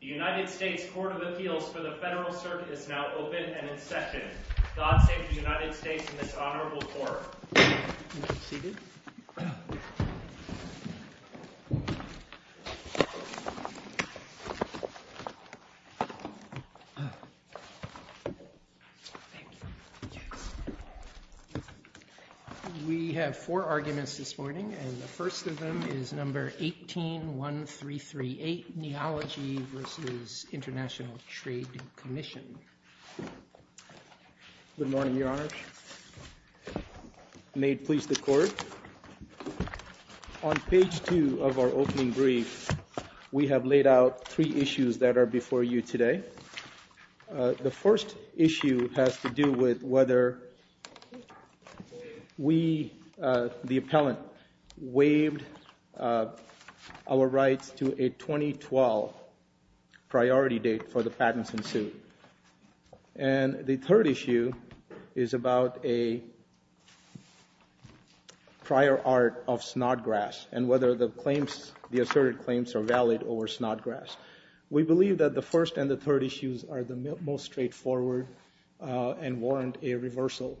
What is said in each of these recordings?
The United States Court of Appeals for the Federal Circuit is now open and in session. God save the United States in this honorable court. You may be seated. We have four arguments this morning, and the first of them is No. 18-1338, Neology v. International Trade Commission. Good morning, Your Honor. May it please the Court, on page 2 of our opening brief, we have laid out three issues that are before you today. The first issue has to do with whether we, the appellant, waived our rights to a 2012 priority date for the patents in suit. And the third issue is about a prior art of snodgrass and whether the claims, the asserted claims are valid over snodgrass. We believe that the first and the third issues are the most straightforward and warrant a reversal.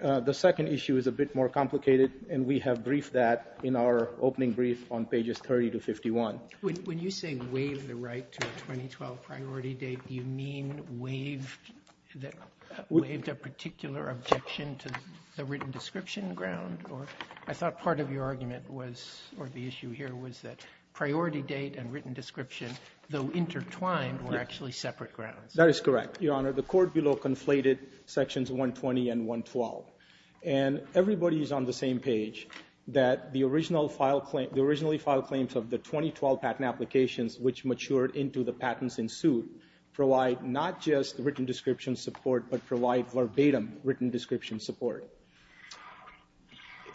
The second issue is a bit more complicated, and we have briefed that in our opening brief on pages 30 to 51. When you say waived the right to a 2012 priority date, do you mean waived a particular objection to the written description ground? I thought part of your argument was, or the issue here was that priority date and written description, though intertwined, were actually separate grounds. That is correct, Your Honor. The court below conflated sections 120 and 112. And everybody is on the same page, that the originally filed claims of the 2012 patent applications, which matured into the patents in suit, provide not just written description support, but provide verbatim written description support.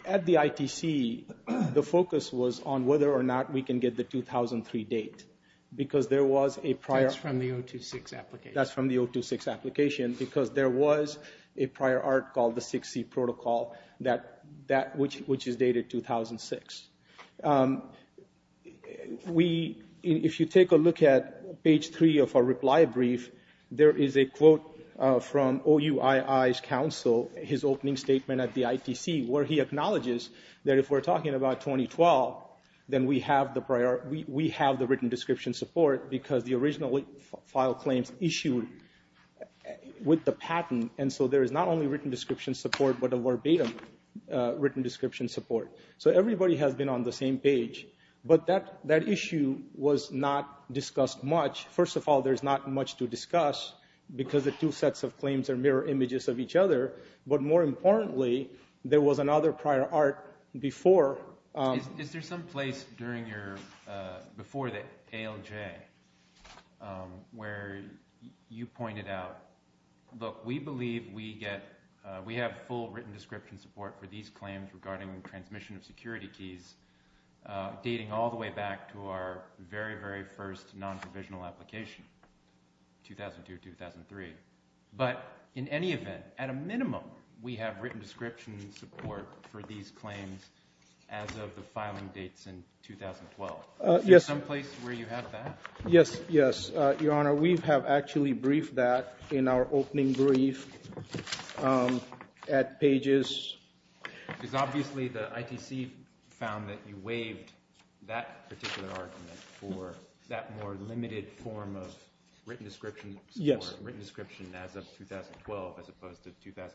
At the ITC, the focus was on whether or not we can get the 2003 date, because there was a prior... That's from the 026 application. Because there was a prior art called the 6C protocol, which is dated 2006. If you take a look at page 3 of our reply brief, there is a quote from OUII's counsel, his opening statement at the ITC, where he acknowledges that if we're talking about 2012, then we have the written description support, because the original file claims issued with the patent. And so there is not only written description support, but a verbatim written description support. So everybody has been on the same page. But that issue was not discussed much. First of all, there's not much to discuss, because the two sets of claims are mirror images of each other. But more importantly, there was another prior art before... Is there some place before the ALJ where you pointed out, look, we believe we have full written description support for these claims regarding transmission of security keys, dating all the way back to our very, very first non-provisional application, 2002-2003. But in any event, at a minimum, we have written description support for these claims as of filing dates in 2012. Is there some place where you have that? Yes. Yes, Your Honor. We have actually briefed that in our opening brief at PAGES. Because obviously, the ITC found that you waived that particular argument for that more limited form of written description support, written description as of 2012, as opposed to 2002-2003.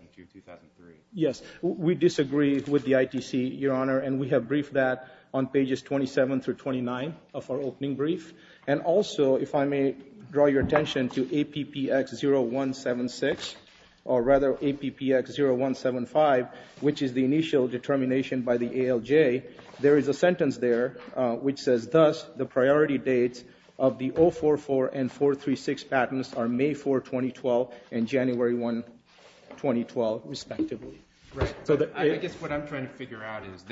Yes. We disagree with the ITC, Your Honor. And we have briefed that on PAGES 27 through 29 of our opening brief. And also, if I may draw your attention to APPX 0176, or rather APPX 0175, which is the initial determination by the ALJ, there is a sentence there which says, thus, the priority dates of the 044 and 436 patents are May 4, 2012 and January 1, 2012, respectively. Right. I guess what I'm trying to figure out is,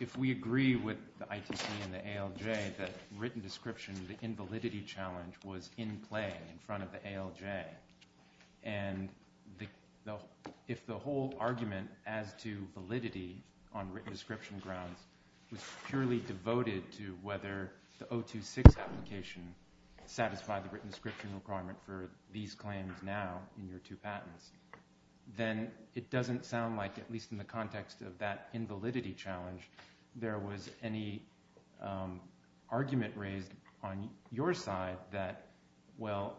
if we agree with the ITC and the ALJ that written description, the invalidity challenge, was in play in front of the ALJ, and if the whole argument as to validity on written description grounds was purely devoted to whether the 026 application satisfied the written description requirement for these claims now in your two minutes, then it doesn't sound like, at least in the context of that invalidity challenge, there was any argument raised on your side that, well,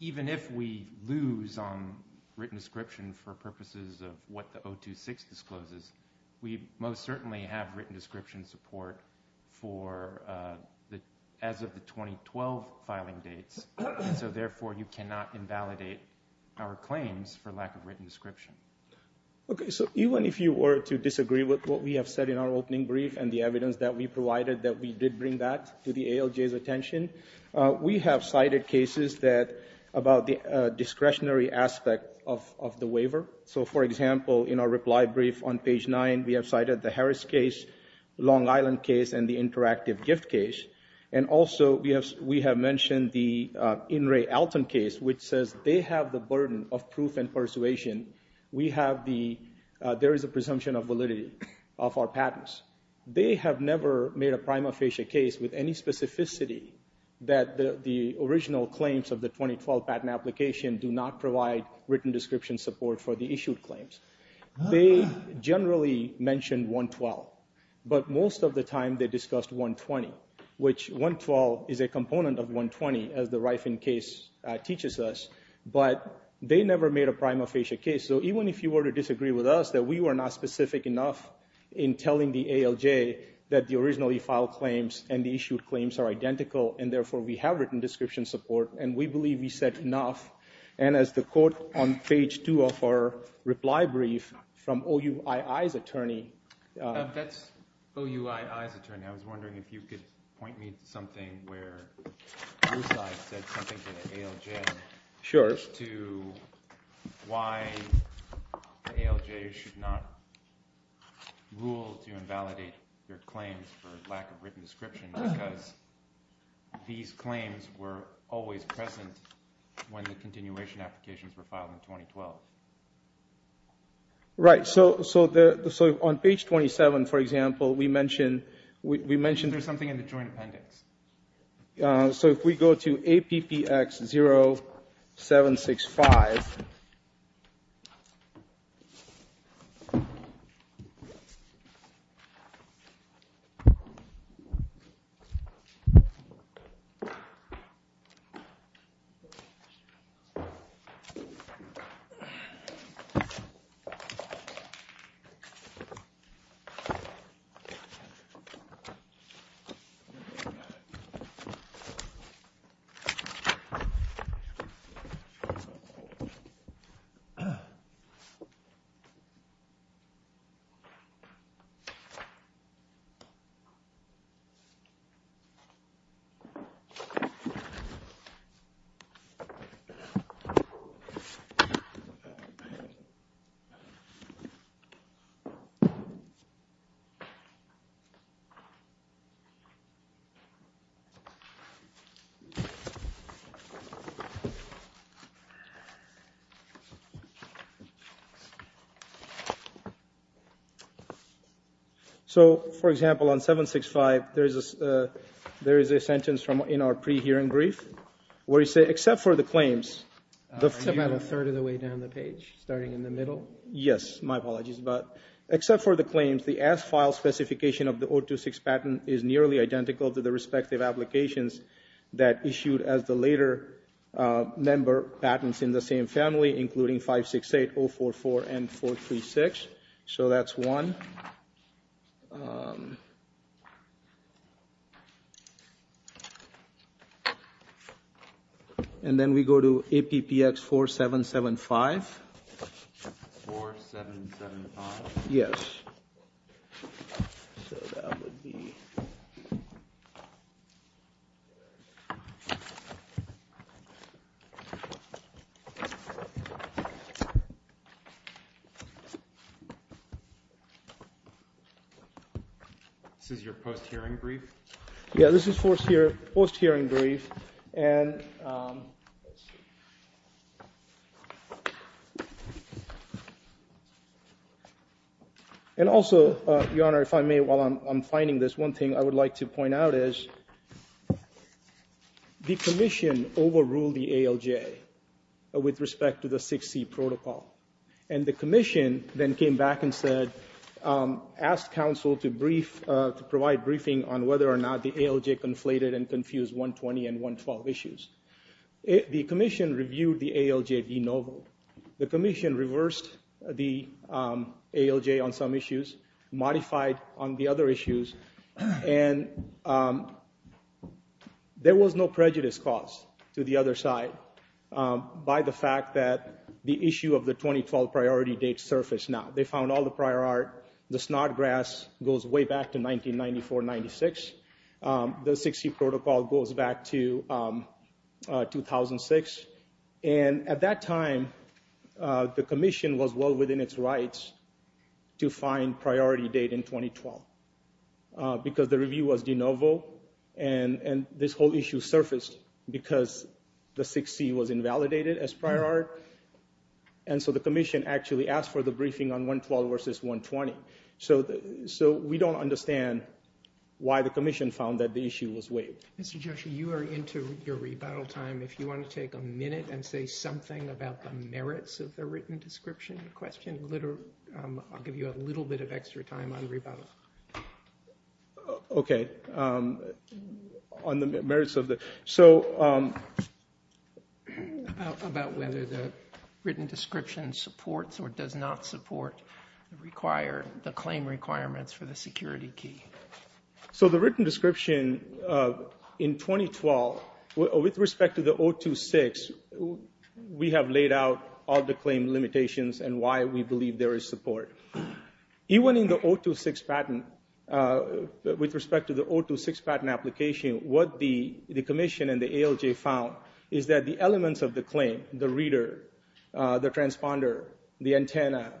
even if we lose on written description for purposes of what the 026 discloses, we most certainly have written description support for as of the 2012 filing dates. So, therefore, you cannot invalidate our claims for lack of written description. Okay. So, even if you were to disagree with what we have said in our opening brief and the evidence that we provided that we did bring back to the ALJ's attention, we have cited cases about the discretionary aspect of the waiver. So, for example, in our reply brief on page 9, we have cited the Harris case, Long Island case, and the interactive gift case. And, also, we have mentioned the In re Alton case, which says they have the burden of proof and persuasion. We have the, there is a presumption of validity of our patents. They have never made a prima facie case with any specificity that the original claims of the 2012 patent application do not provide written description support for the issued claims. They generally mention 112, but most of the time they discussed 120, which 112 is a component of 120, as the Riefen case teaches us, but they never made a prima facie case. So, even if you were to disagree with us that we were not specific enough in telling the ALJ that the originally filed claims and the issued claims are identical, and, therefore, we have written description support, and we believe we said enough, and as the quote on the reply brief from OUII's attorney. That's OUII's attorney. I was wondering if you could point me to something where your side said something to the ALJ. Sure. To why the ALJ should not rule to invalidate their claims for lack of written description because these claims were always present when the continuation applications were filed in Right. So on page 27, for example, we mention there's something in the joint appendix. So, for example, on 765, there is a sentence in our pre-hearing brief where you say, except It's about a third of the way down the page, starting in the middle. Yes, my apologies, but except for the claims, the as-filed specification of the 026 patent is nearly identical to the respective applications that issued as the later member patents in the same family, including 568, 044, and 436. So that's one. And then we go to APPX 4775. 4775? Yes. This is your post-hearing brief? Yeah, this is post-hearing brief. And also, Your Honor, if I may, while I'm finding this, one thing I would like to point out is the commission overruled the ALJ with respect to the 6C protocol. And the commission then came back and said, asked counsel to brief, to provide The commission reviewed the ALJ de novo. The commission reversed the ALJ on some issues, modified on the other issues, and there was no prejudice caused to the other side by the fact that the issue of the 2012 priority date surfaced now. They found all the prior art. The snot grass goes way back to 1994-96. The 6C protocol goes back to 2006. And at that time, the commission was well within its rights to find priority date in 2012 because the review was de novo and this whole issue surfaced because the 6C was invalidated as prior art. And so the commission actually asked for the briefing on 112 versus 120. So we don't understand why the commission found that the issue was waived. Mr. Joshua, you are into your rebuttal time. If you want to take a minute and say something about the merits of the written description question, I'll give you a little bit of extra time on rebuttal. Okay. On the merits of the... About whether the written description supports or does not support the claim requirements for the security key. So the written description in 2012, with respect to the 026, we have laid out all the claim limitations and why we believe there is support. Even in the 026 patent, with respect to the 026 patent application, what the commission and the ALJ found is that the elements of the claim, the reader, the transponder, the antenna,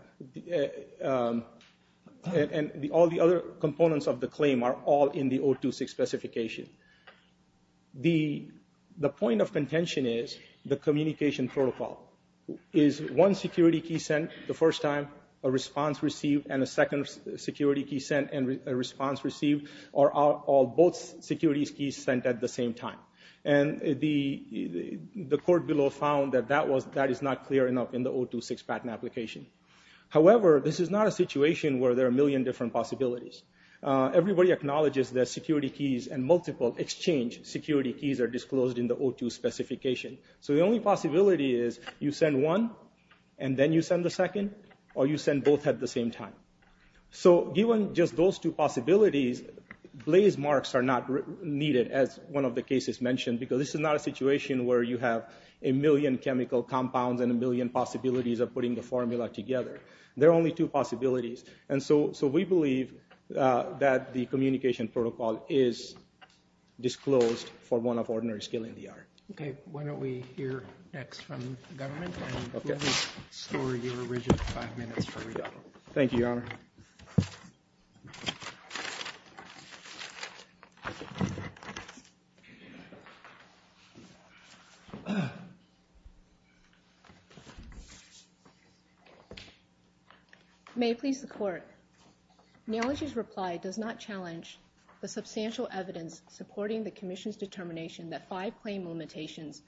and all the other components of the claim are all in the 026 specification. The point of contention is the communication protocol. Is one security key sent the first time, a response received, and a second security key received, or are both security keys sent at the same time? And the court below found that that is not clear enough in the 026 patent application. However, this is not a situation where there are a million different possibilities. Everybody acknowledges that security keys and multiple exchange security keys are disclosed in the 026 specification. So the only possibility is you send one, and then you send the second, or you send both at the same time. So given just those two possibilities, blaze marks are not needed, as one of the cases mentioned, because this is not a situation where you have a million chemical compounds and a million possibilities of putting the formula together. There are only two possibilities. And so we believe that the communication protocol is disclosed for one of ordinary skill in the art. Okay. Why don't we hear next from the government, and we'll restore your original five minutes for rebuttal. Thank you, Your Honor. May it please the court. Neology's reply does not challenge the substantial evidence supporting the commission's determination that five claim limitations,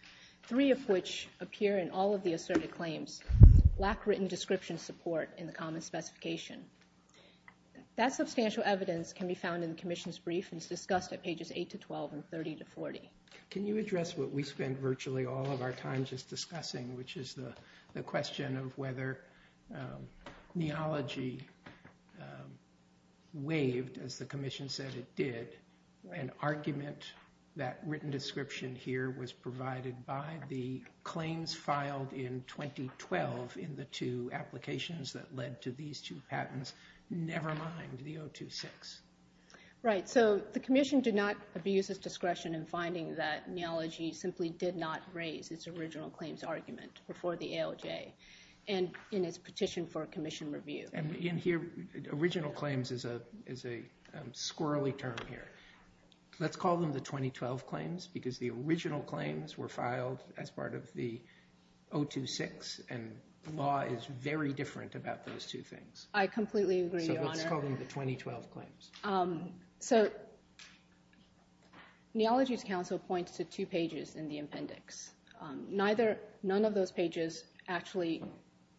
three of which appear in all of the asserted claims, lack written description support in the common specification. That substantial evidence can be found in the commission's brief and is discussed at pages 8 to 12 and 30 to 40. Can you address what we spend virtually all of our time just discussing, which is the question of whether neology waived, as the commission said it did, an argument that written description here was provided by the claims filed in 2012 in the two applications that led to these two patents, never mind the 026. Right. So the commission did not abuse its discretion in finding that neology simply did not raise its original claims argument before the ALJ and in its petition for commission review. And in here, original claims is a squirrely term here. Let's call them the 2012 claims because the original claims were filed as part of the 026 and the law is very different about those two things. I completely agree, Your Honor. So let's call them the 2012 claims. So Neology's counsel points to two pages in the appendix. None of those pages actually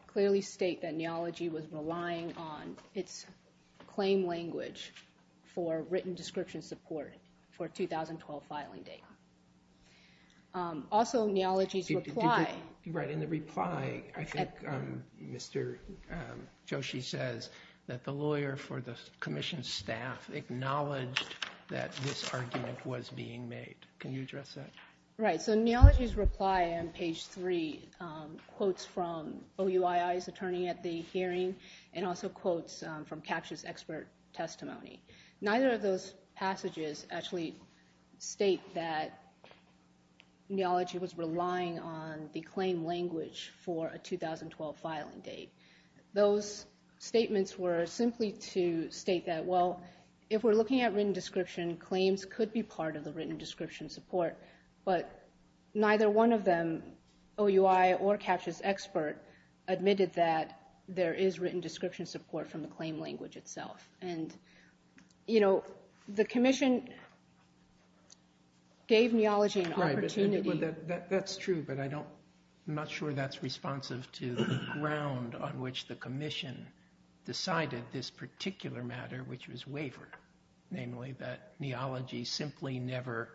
clearly state that neology was relying on its claim language for written description support for 2012 filing date. Also, neology's reply... Right. In the reply, I think Mr. Joshi says that the lawyer for the commission staff acknowledged that this argument was being made. Can you address that? Right. So neology's reply on page three quotes from OUII's attorney at the hearing and also quotes from CAPTCHA's expert testimony. Neither of those passages actually state that neology was relying on the claim language for a 2012 filing date. Those statements were simply to state that, well, if we're looking at written description, claims could be part of the written description support, but neither one of them, OUII or And, you know, the commission gave neology an opportunity... That's true, but I'm not sure that's responsive to the ground on which the commission decided this particular matter, which was wavered. Namely, that neology simply never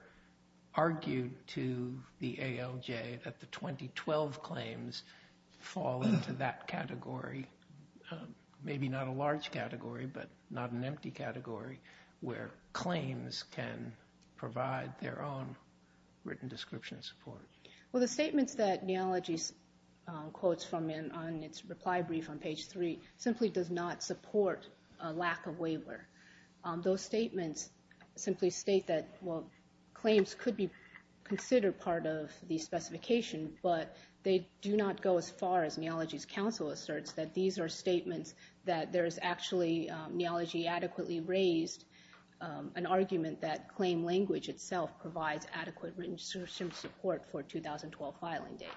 argued to the ALJ that the 2012 claims fall into that category. Maybe not a large category, but not an empty category where claims can provide their own written description support. Well, the statements that neology quotes from on its reply brief on page three simply does not support a lack of waiver. Those statements simply state that, well, claims could be considered part of the specification, but they do not go as far as neology's counsel asserts that these are statements that there's actually neology adequately raised an argument that claim language itself provides adequate written description support for a 2012 filing date.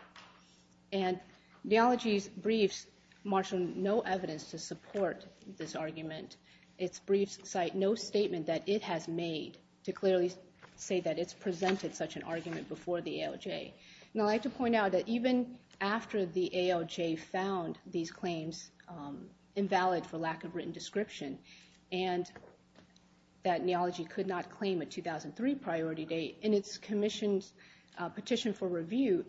And neology's briefs marshal no evidence to support this argument. Its briefs cite no statement that it has made to clearly say that it's presented such an argument before the ALJ. And I'd like to point out that even after the ALJ found these claims invalid for lack of written description and that neology could not claim a 2003 priority date in its commission's petition for review,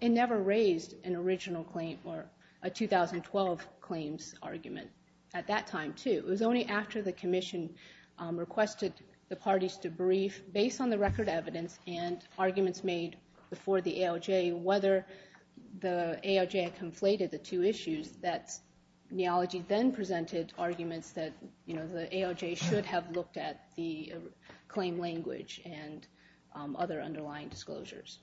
it never raised an original claim or a 2012 claims argument at that time, too. It was only after the commission requested the parties to brief based on the record evidence and arguments made before the ALJ whether the ALJ had conflated the two issues that neology then presented arguments that, you know, the ALJ should have looked at the claim language and other underlying disclosures.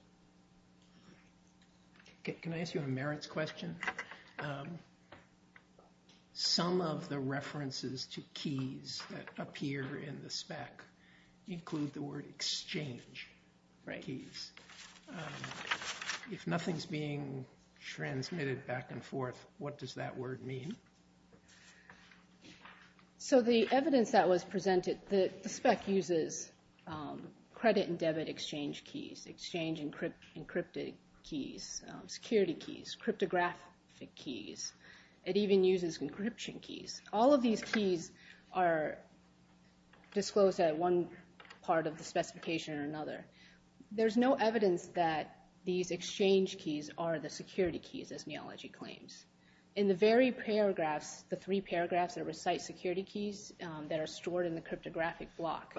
Can I ask you a merits question? Some of the references to keys that appear in the spec include the word exchange keys. If nothing's being transmitted back and forth, what does that word mean? So the evidence that was presented, the spec uses credit and debit exchange keys, exchange encrypted keys, security keys, cryptographic keys. It even uses encryption keys. All of these keys are disclosed at one part of the specification or another. There's no evidence that these exchange keys are the security keys, as neology claims. In the very paragraphs, the three paragraphs that recite security keys that are stored in the cryptographic block.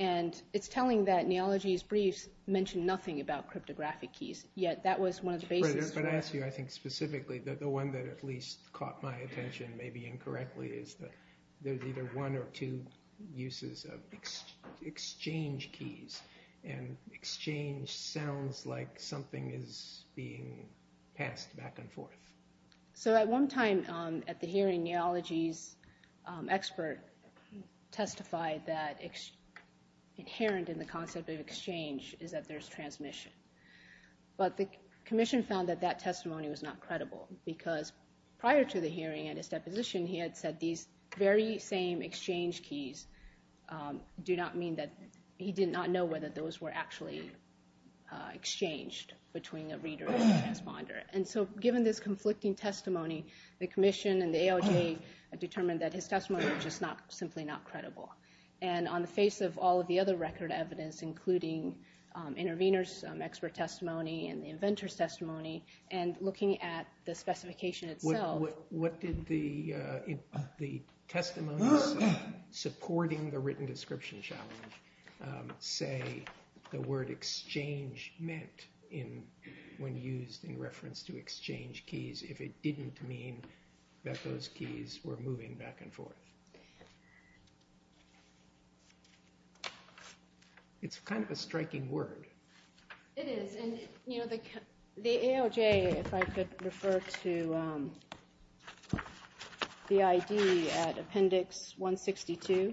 And it's telling that neology's briefs mention nothing about cryptographic keys, yet that was one of the basis. But I ask you, I think specifically, the one that at least caught my attention maybe incorrectly is that there's either one or two uses of exchange keys. So at one time at the hearing, neology's expert testified that inherent in the concept of exchange is that there's transmission. But the commission found that that testimony was not credible because prior to the hearing and his deposition, he had said these very same exchange keys do not mean that, he did not know whether those conflicting testimony, the commission and the ALJ determined that his testimony was just simply not credible. And on the face of all of the other record evidence, including intervener's expert testimony and the inventor's testimony, and looking at the specification itself. What did the testimonies supporting the written description challenge say the word exchange meant when used in reference to exchange keys if it didn't mean that those keys were moving back and forth? It's kind of a striking word. It is. And the ALJ, if I could refer to the ID at appendix 162,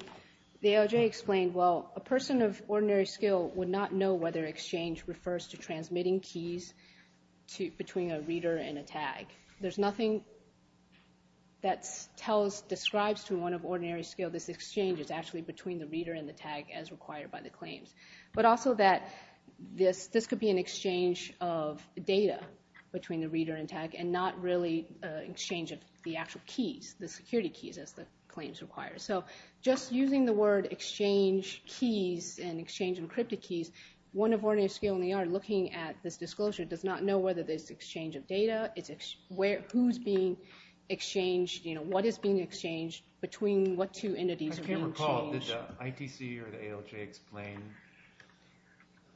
the ALJ explained, well, a person of ordinary skill would not know whether exchange refers to transmitting keys between a reader and a tag. There's nothing that describes to one of ordinary skill this exchange is actually between the reader and the tag as required by the claims. But also that this could be an exchange of data between the reader and tag and not really an exchange of the actual keys, the security keys as the claims require. So just using the word exchange keys and exchange encrypted keys, one of ordinary skill in the art looking at this disclosure does not know whether there's exchange of data, who's being exchanged, what is being exchanged between what two entities are being exchanged. I can't recall. Did the ITC or the ALJ explain?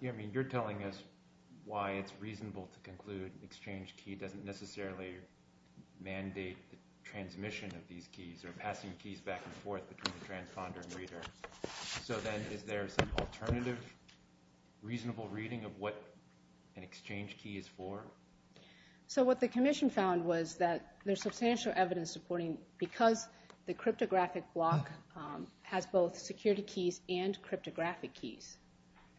I mean, you're telling us why it's reasonable to conclude exchange key doesn't necessarily mandate the So then is there some alternative reasonable reading of what an exchange key is for? So what the commission found was that there's substantial evidence supporting because the cryptographic block has both security keys and cryptographic keys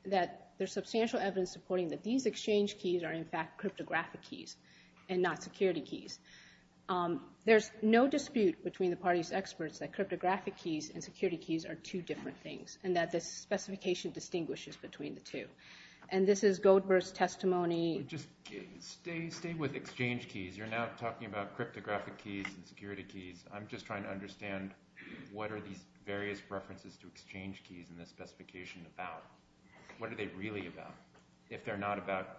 that there's substantial evidence supporting that these exchange keys are in fact cryptographic keys and not security keys. There's no dispute between the party's experts that cryptographic keys and security keys are two different things and that this specification distinguishes between the two. And this is Goldberg's testimony. Just stay with exchange keys. You're not talking about cryptographic keys and security keys. I'm just trying to understand what are these various references to exchange keys in this specification about? What are they really about if they're not about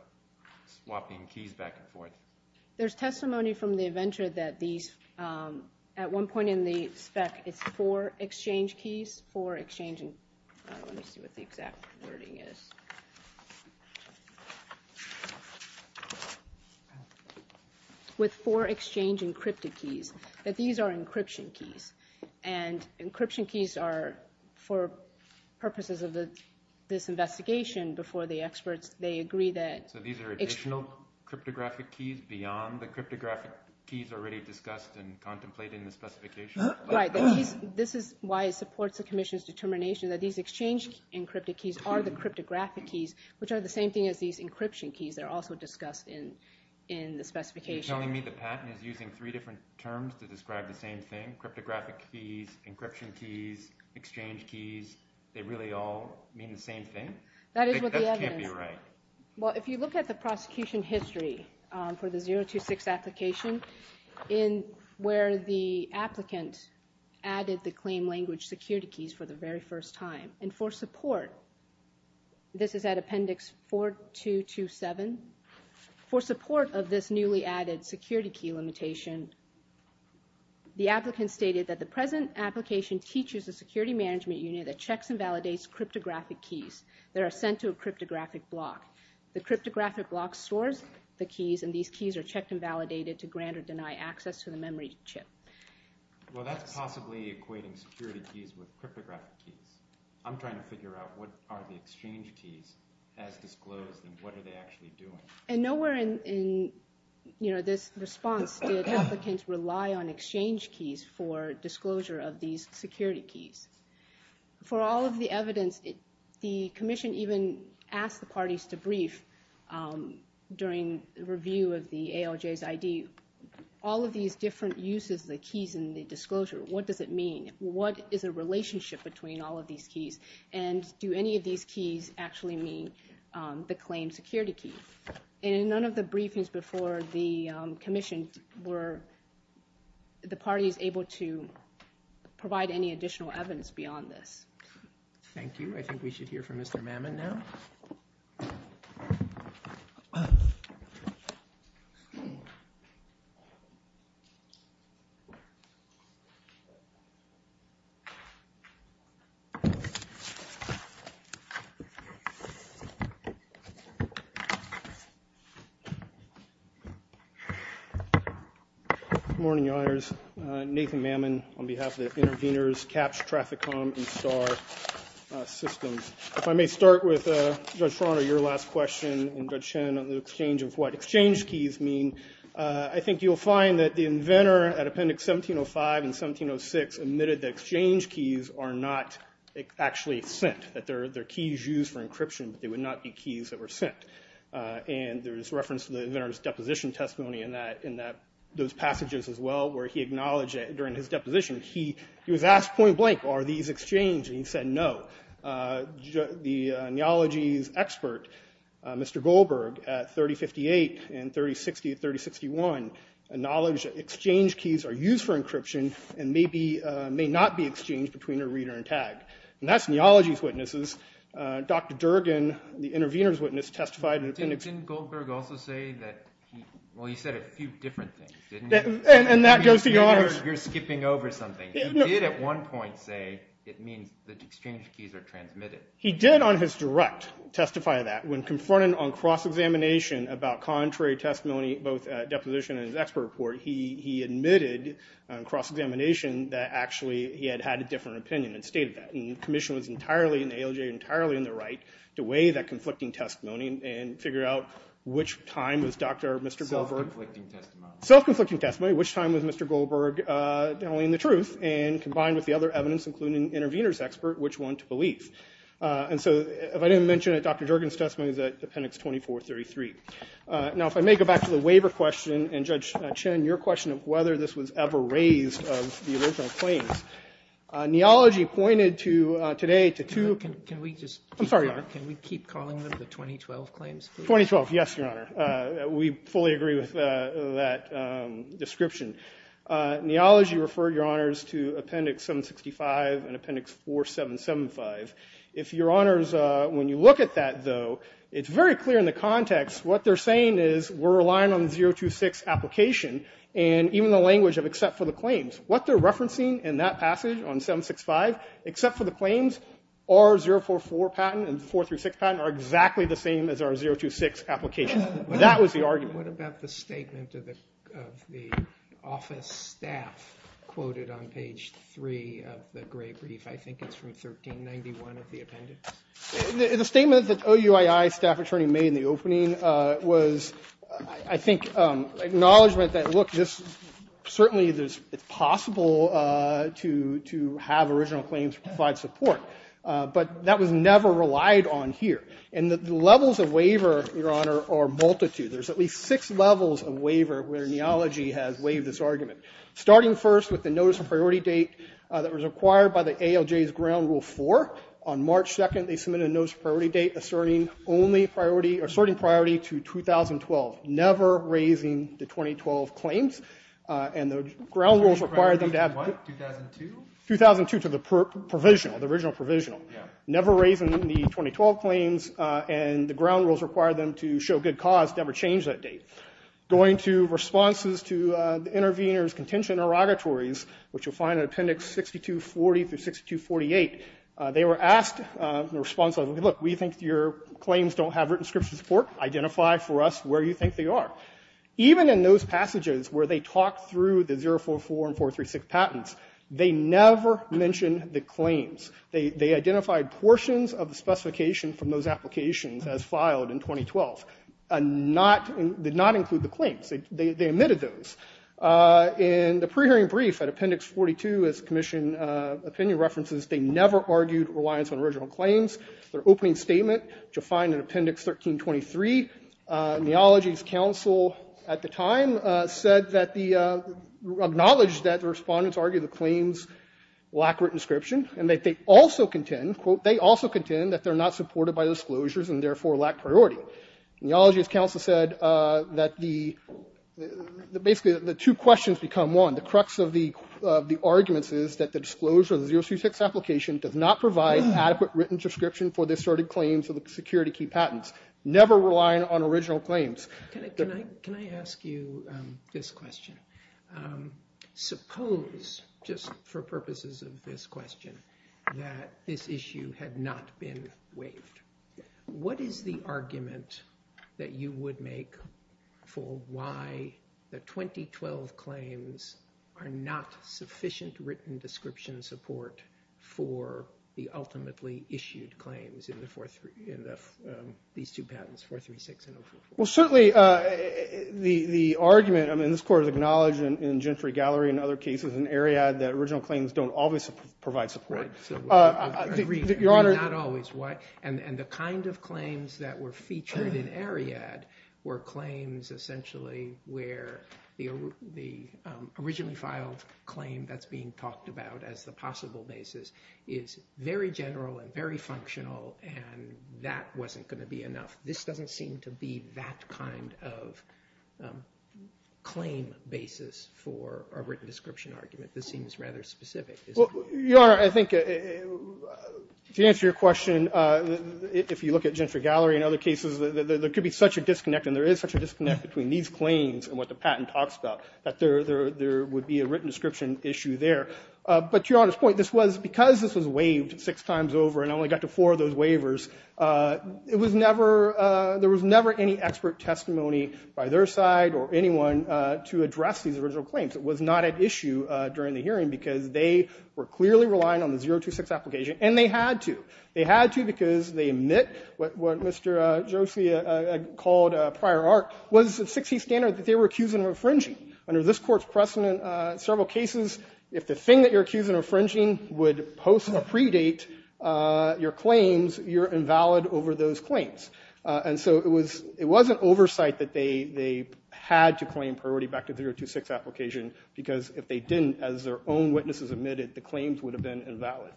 swapping keys back and forth? There's testimony from the inventor that these at one point in the spec is for exchange keys for exchanging. Let me see what the exact wording is. With four exchange encrypted keys that these are encryption keys and encryption keys are for purposes of the this investigation before the experts. So these are additional cryptographic keys beyond the cryptographic keys already discussed and contemplated in the specification? This is why it supports the commission's determination that these exchange encrypted keys are the cryptographic keys which are the same thing as these encryption keys that are also discussed in the specification. You're telling me the patent is using three different terms to describe the same thing? Cryptographic keys, encryption keys, exchange keys, they really all mean the same thing? That is what the evidence. That can't be right. Well, if you look at the prosecution history for the 026 application where the applicant added the claim language security keys for the very first time and for support, this is at appendix 4227, for support of this newly added security key limitation, the applicant stated that the present application teaches a security management unit that checks and validates cryptographic keys. They are sent to a cryptographic block. The cryptographic block stores the keys and these keys are checked and validated to grant or deny access to the memory chip. Well, that's possibly equating security keys with cryptographic keys. I'm trying to figure out what are the exchange keys as disclosed and what are they actually doing? And nowhere in this response did applicants rely on exchange keys for disclosure of these security keys. For all of the evidence, the commission even asked the parties to brief during review of the ALJ's ID, all of these different uses, the keys and the disclosure, what does it mean? What is the relationship between all of these keys? And do any of these keys actually mean the claim security key? And in none of the briefings before the commission were the parties able to provide any additional evidence beyond this. Thank you. I think we should hear from Mr. Mammon now. Good morning, Your Honors. Nathan Mammon on behalf of the intervenors, CAHPS, Traficom, and STAR systems. If I may start with Judge Farner, your last question, and Judge Chen on the exchange of what exchange keys mean. I think you'll find that the inventor at Appendix 1705 and 1706 admitted that exchange keys are not actually sent, that they're keys used for encryption, but they would not be keys that were sent. And there's reference to the inventor's deposition testimony in those passages as well, where he acknowledged it during his deposition. He was asked point blank, are these exchanged? And he said no. The neology's expert, Mr. Goldberg, at 3058 and 3060 and 3061, acknowledged that exchange keys are used for encryption and may not be exchanged between a reader and tag. And that's neology's witnesses. Dr. Durgin, the intervenor's witness, testified in Appendix- Didn't Goldberg also say that he- well, he said a few different things, didn't he? And that goes to your honors. You're skipping over something. He did at one point say it means that exchange keys are transmitted. He did on his direct testify of that. When confronted on cross-examination about contrary testimony, both deposition and his expert report, he admitted on cross-examination that actually he had had a different opinion and stated that. And the commission was entirely in the ALJ, entirely in the right, to weigh that conflicting testimony and figure out which time was Dr. Mr. Goldberg- Self-conflicting testimony. Self-conflicting testimony, which time was Mr. Goldberg telling the truth, and combined with the other evidence, including the intervenor's expert, which one to believe. And so if I didn't mention it, Dr. Durgin's testimony is at Appendix 2433. Now, if I may go back to the waiver question and, Judge Chin, your question of whether this was ever raised of the original claims. Neology pointed today to two- Can we just- I'm sorry, Your Honor. Can we keep calling them the 2012 claims? 2012, yes, Your Honor. We fully agree with that description. Neology referred, Your Honors, to Appendix 765 and Appendix 4775. If, Your Honors, when you look at that, though, it's very clear in the context. What they're saying is we're relying on the 026 application and even the language of except for the claims. What they're referencing in that passage on 765, except for the claims, our 044 patent and 436 patent are exactly the same as our 026 application. That was the argument. What about the statement of the office staff quoted on page 3 of the gray brief? I think it's from 1391 of the appendix. The statement that OUII staff attorney made in the opening was, I think, acknowledgment that, look, certainly it's possible to have original claims provide support, but that was never relied on here. And the levels of waiver, Your Honor, are multitude. There's at least six levels of waiver where Neology has waived this argument, starting first with the notice of priority date that was acquired by the ALJ's ground rule 4. On March 2nd, they submitted a notice of priority date asserting priority to 2012. Never raising the 2012 claims. And the ground rules require them to have the 2002 to the provisional, the original provisional. Never raising the 2012 claims. And the ground rules require them to show good cause to ever change that date. Going to responses to the intervener's contention and interrogatories, which you'll find in appendix 6240 through 6248, they were asked in response, look, we think your claims don't have written scripture support. Identify for us where you think they are. Even in those passages where they talked through the 044 and 436 patents, they never mentioned the claims. They identified portions of the specification from those applications as filed in 2012. Did not include the claims. They omitted those. In the pre-hearing brief at appendix 42, as the commission opinion references, they never argued reliance on original claims. Their opening statement, which you'll find in appendix 1323, neology's counsel at the time said that the, acknowledged that the respondents argued the claims lack written description and that they also contend, quote, they also contend that they're not supported by disclosures and therefore lack priority. Neology's counsel said that the, basically the two questions become one. The crux of the arguments is that the disclosure of the 036 application does not provide adequate written description for the asserted claims of the security key patents. Never relying on original claims. Can I ask you this question? Suppose, just for purposes of this question, that this issue had not been waived. What is the argument that you would make for why the 2012 claims are not sufficient written description support for the ultimately issued claims in these two patents, 436 and 044? Well, certainly the argument, I mean this court has acknowledged in Gentry Gallery and other cases in Ariad that original claims don't always provide support. Your Honor. Not always. And the kind of claims that were featured in Ariad were claims essentially where the originally filed claim that's being talked about as the possible basis is very general and very functional and that wasn't going to be enough. This doesn't seem to be that kind of claim basis for a written description argument. This seems rather specific. Your Honor, I think to answer your question, if you look at Gentry Gallery and other cases, there could be such a disconnect and there is such a disconnect between these claims and what the patent talks about that there would be a written description issue there. But to Your Honor's point, because this was waived six times over and only got to four of those waivers, there was never any expert testimony by their side or anyone to address these original claims. It was not at issue during the hearing because they were clearly relying on the 026 application and they had to. They had to because they admit what Mr. Josie called prior art was a 60 standard that they were accused of infringing. Under this Court's precedent in several cases, if the thing that you're accused of infringing would post or predate your claims, you're invalid over those claims. And so it was an oversight that they had to claim priority back to the 026 application because if they didn't, as their own witnesses admitted, the claims would have been invalid.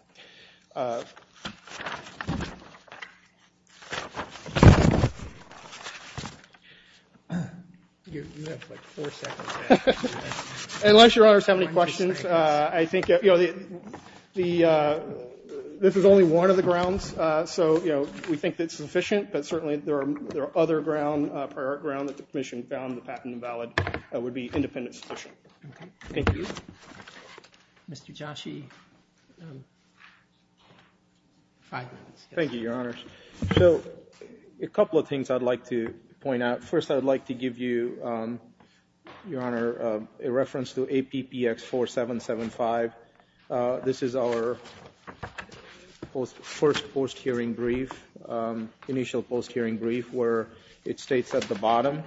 Unless Your Honors have any questions, I think this is only one of the grounds. So we think it's sufficient, but certainly there are other ground, prior art ground, that the Commission found the patent invalid would be independent sufficient. Thank you. Mr. Josie. Thank you, Your Honors. So a couple of things I'd like to point out. First, I'd like to give you, Your Honor, a reference to APPX 4775. This is our first post-hearing brief, initial post-hearing brief, where it states at the bottom,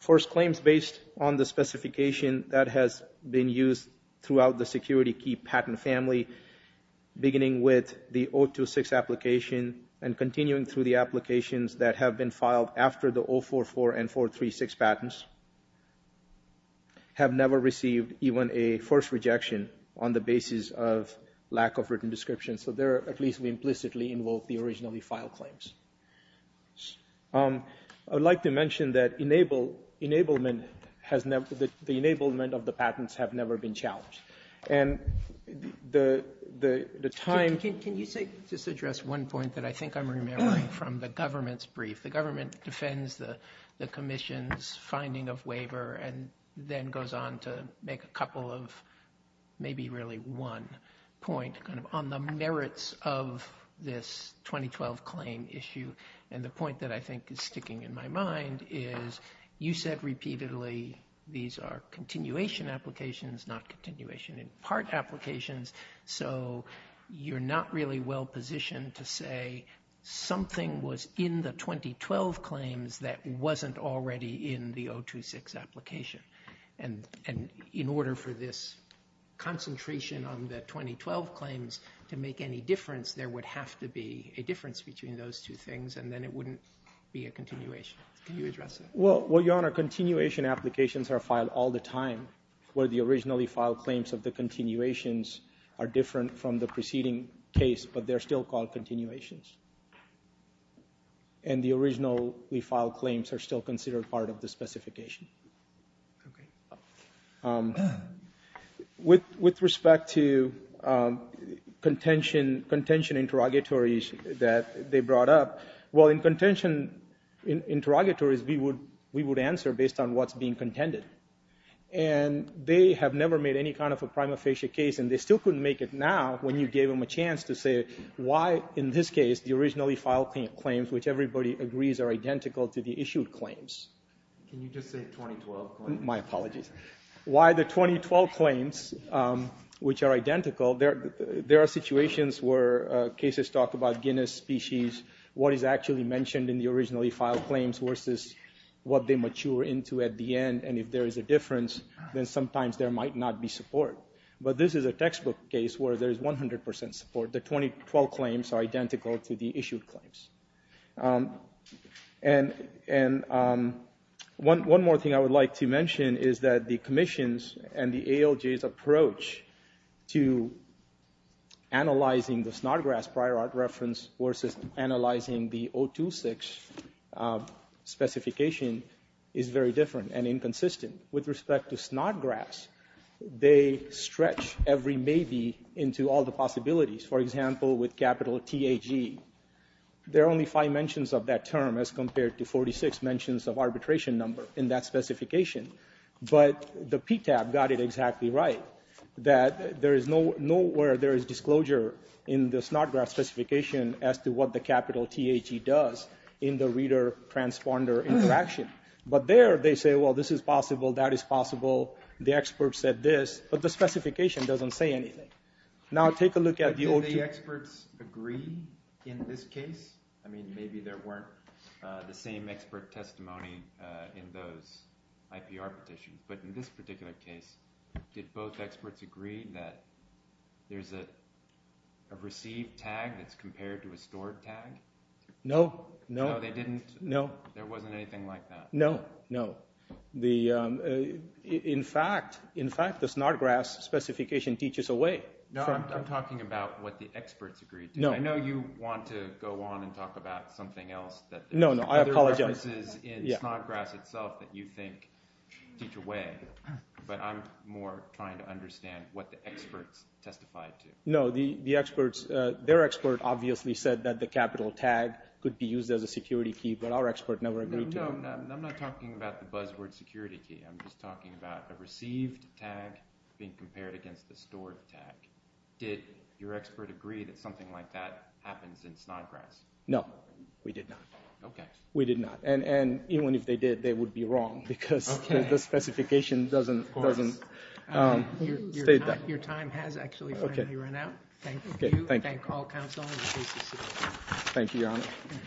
First, claims based on the specification that has been used throughout the security key patent family, beginning with the 026 application and continuing through the applications that have been filed after the 044 and 436 patents, have never received even a first rejection on the basis of lack of written description. So there, at least we implicitly invoke the originally filed claims. I'd like to mention that the enablement of the patents have never been challenged. And the time— Can you just address one point that I think I'm remembering from the government's brief? The government defends the Commission's finding of waiver and then goes on to make a couple of maybe really one point kind of on the merits of this 2012 claim issue. And the point that I think is sticking in my mind is you said repeatedly these are continuation applications, not continuation in part applications. So you're not really well positioned to say something was in the 2012 claims that wasn't already in the 026 application. And in order for this concentration on the 2012 claims to make any difference, there would have to be a difference between those two things and then it wouldn't be a continuation. Can you address that? Well, Your Honor, continuation applications are filed all the time. Where the originally filed claims of the continuations are different from the preceding case, but they're still called continuations. And the originally filed claims are still considered part of the specification. With respect to contention interrogatories that they brought up, well, in contention interrogatories we would answer based on what's being contended. And they have never made any kind of a prima facie case and they still couldn't make it now when you gave them a chance to say why in this case the originally filed claims, which everybody agrees are identical to the issued claims. Can you just say 2012 claims? My apologies. Why the 2012 claims, which are identical, there are situations where cases talk about Guinness species, what is actually mentioned in the originally filed claims versus what they mature into at the end. And if there is a difference, then sometimes there might not be support. But this is a textbook case where there is 100% support. The 2012 claims are identical to the issued claims. And one more thing I would like to mention is that the Commission's and the ALJ's approach to analyzing the snot grass prior art reference versus analyzing the 026 specification is very different and inconsistent. With respect to snot grass, they stretch every maybe into all the possibilities. For example, with capital T-H-E, there are only five mentions of that term as compared to 46 mentions of arbitration number in that specification. But the PTAB got it exactly right, that there is nowhere there is disclosure in the snot grass specification as to what the capital T-H-E does in the reader transponder interaction. But there they say, well, this is possible, that is possible, the expert said this, but the specification doesn't say anything. Now take a look at the old... Did the experts agree in this case? I mean, maybe there weren't the same expert testimony in those IPR petitions. But in this particular case, did both experts agree that there is a received tag that is compared to a stored tag? No, no. No, they didn't? No. There wasn't anything like that? No, no. In fact, the snot grass specification teaches a way. No, I'm talking about what the experts agreed to. I know you want to go on and talk about something else. No, no, I apologize. Other references in snot grass itself that you think teach a way, but I'm more trying to understand what the experts testified to. No, their expert obviously said that the capital tag could be used as a security key, but our expert never agreed to it. I'm not talking about the buzzword security key. I'm just talking about the received tag being compared against the stored tag. Did your expert agree that something like that happens in snot grass? No, we did not. Okay. We did not, and even if they did, they would be wrong because the specification doesn't state that. Your time has actually finally run out. Thank you. Thank you. Thank all counsel. Thank you, Your Honor.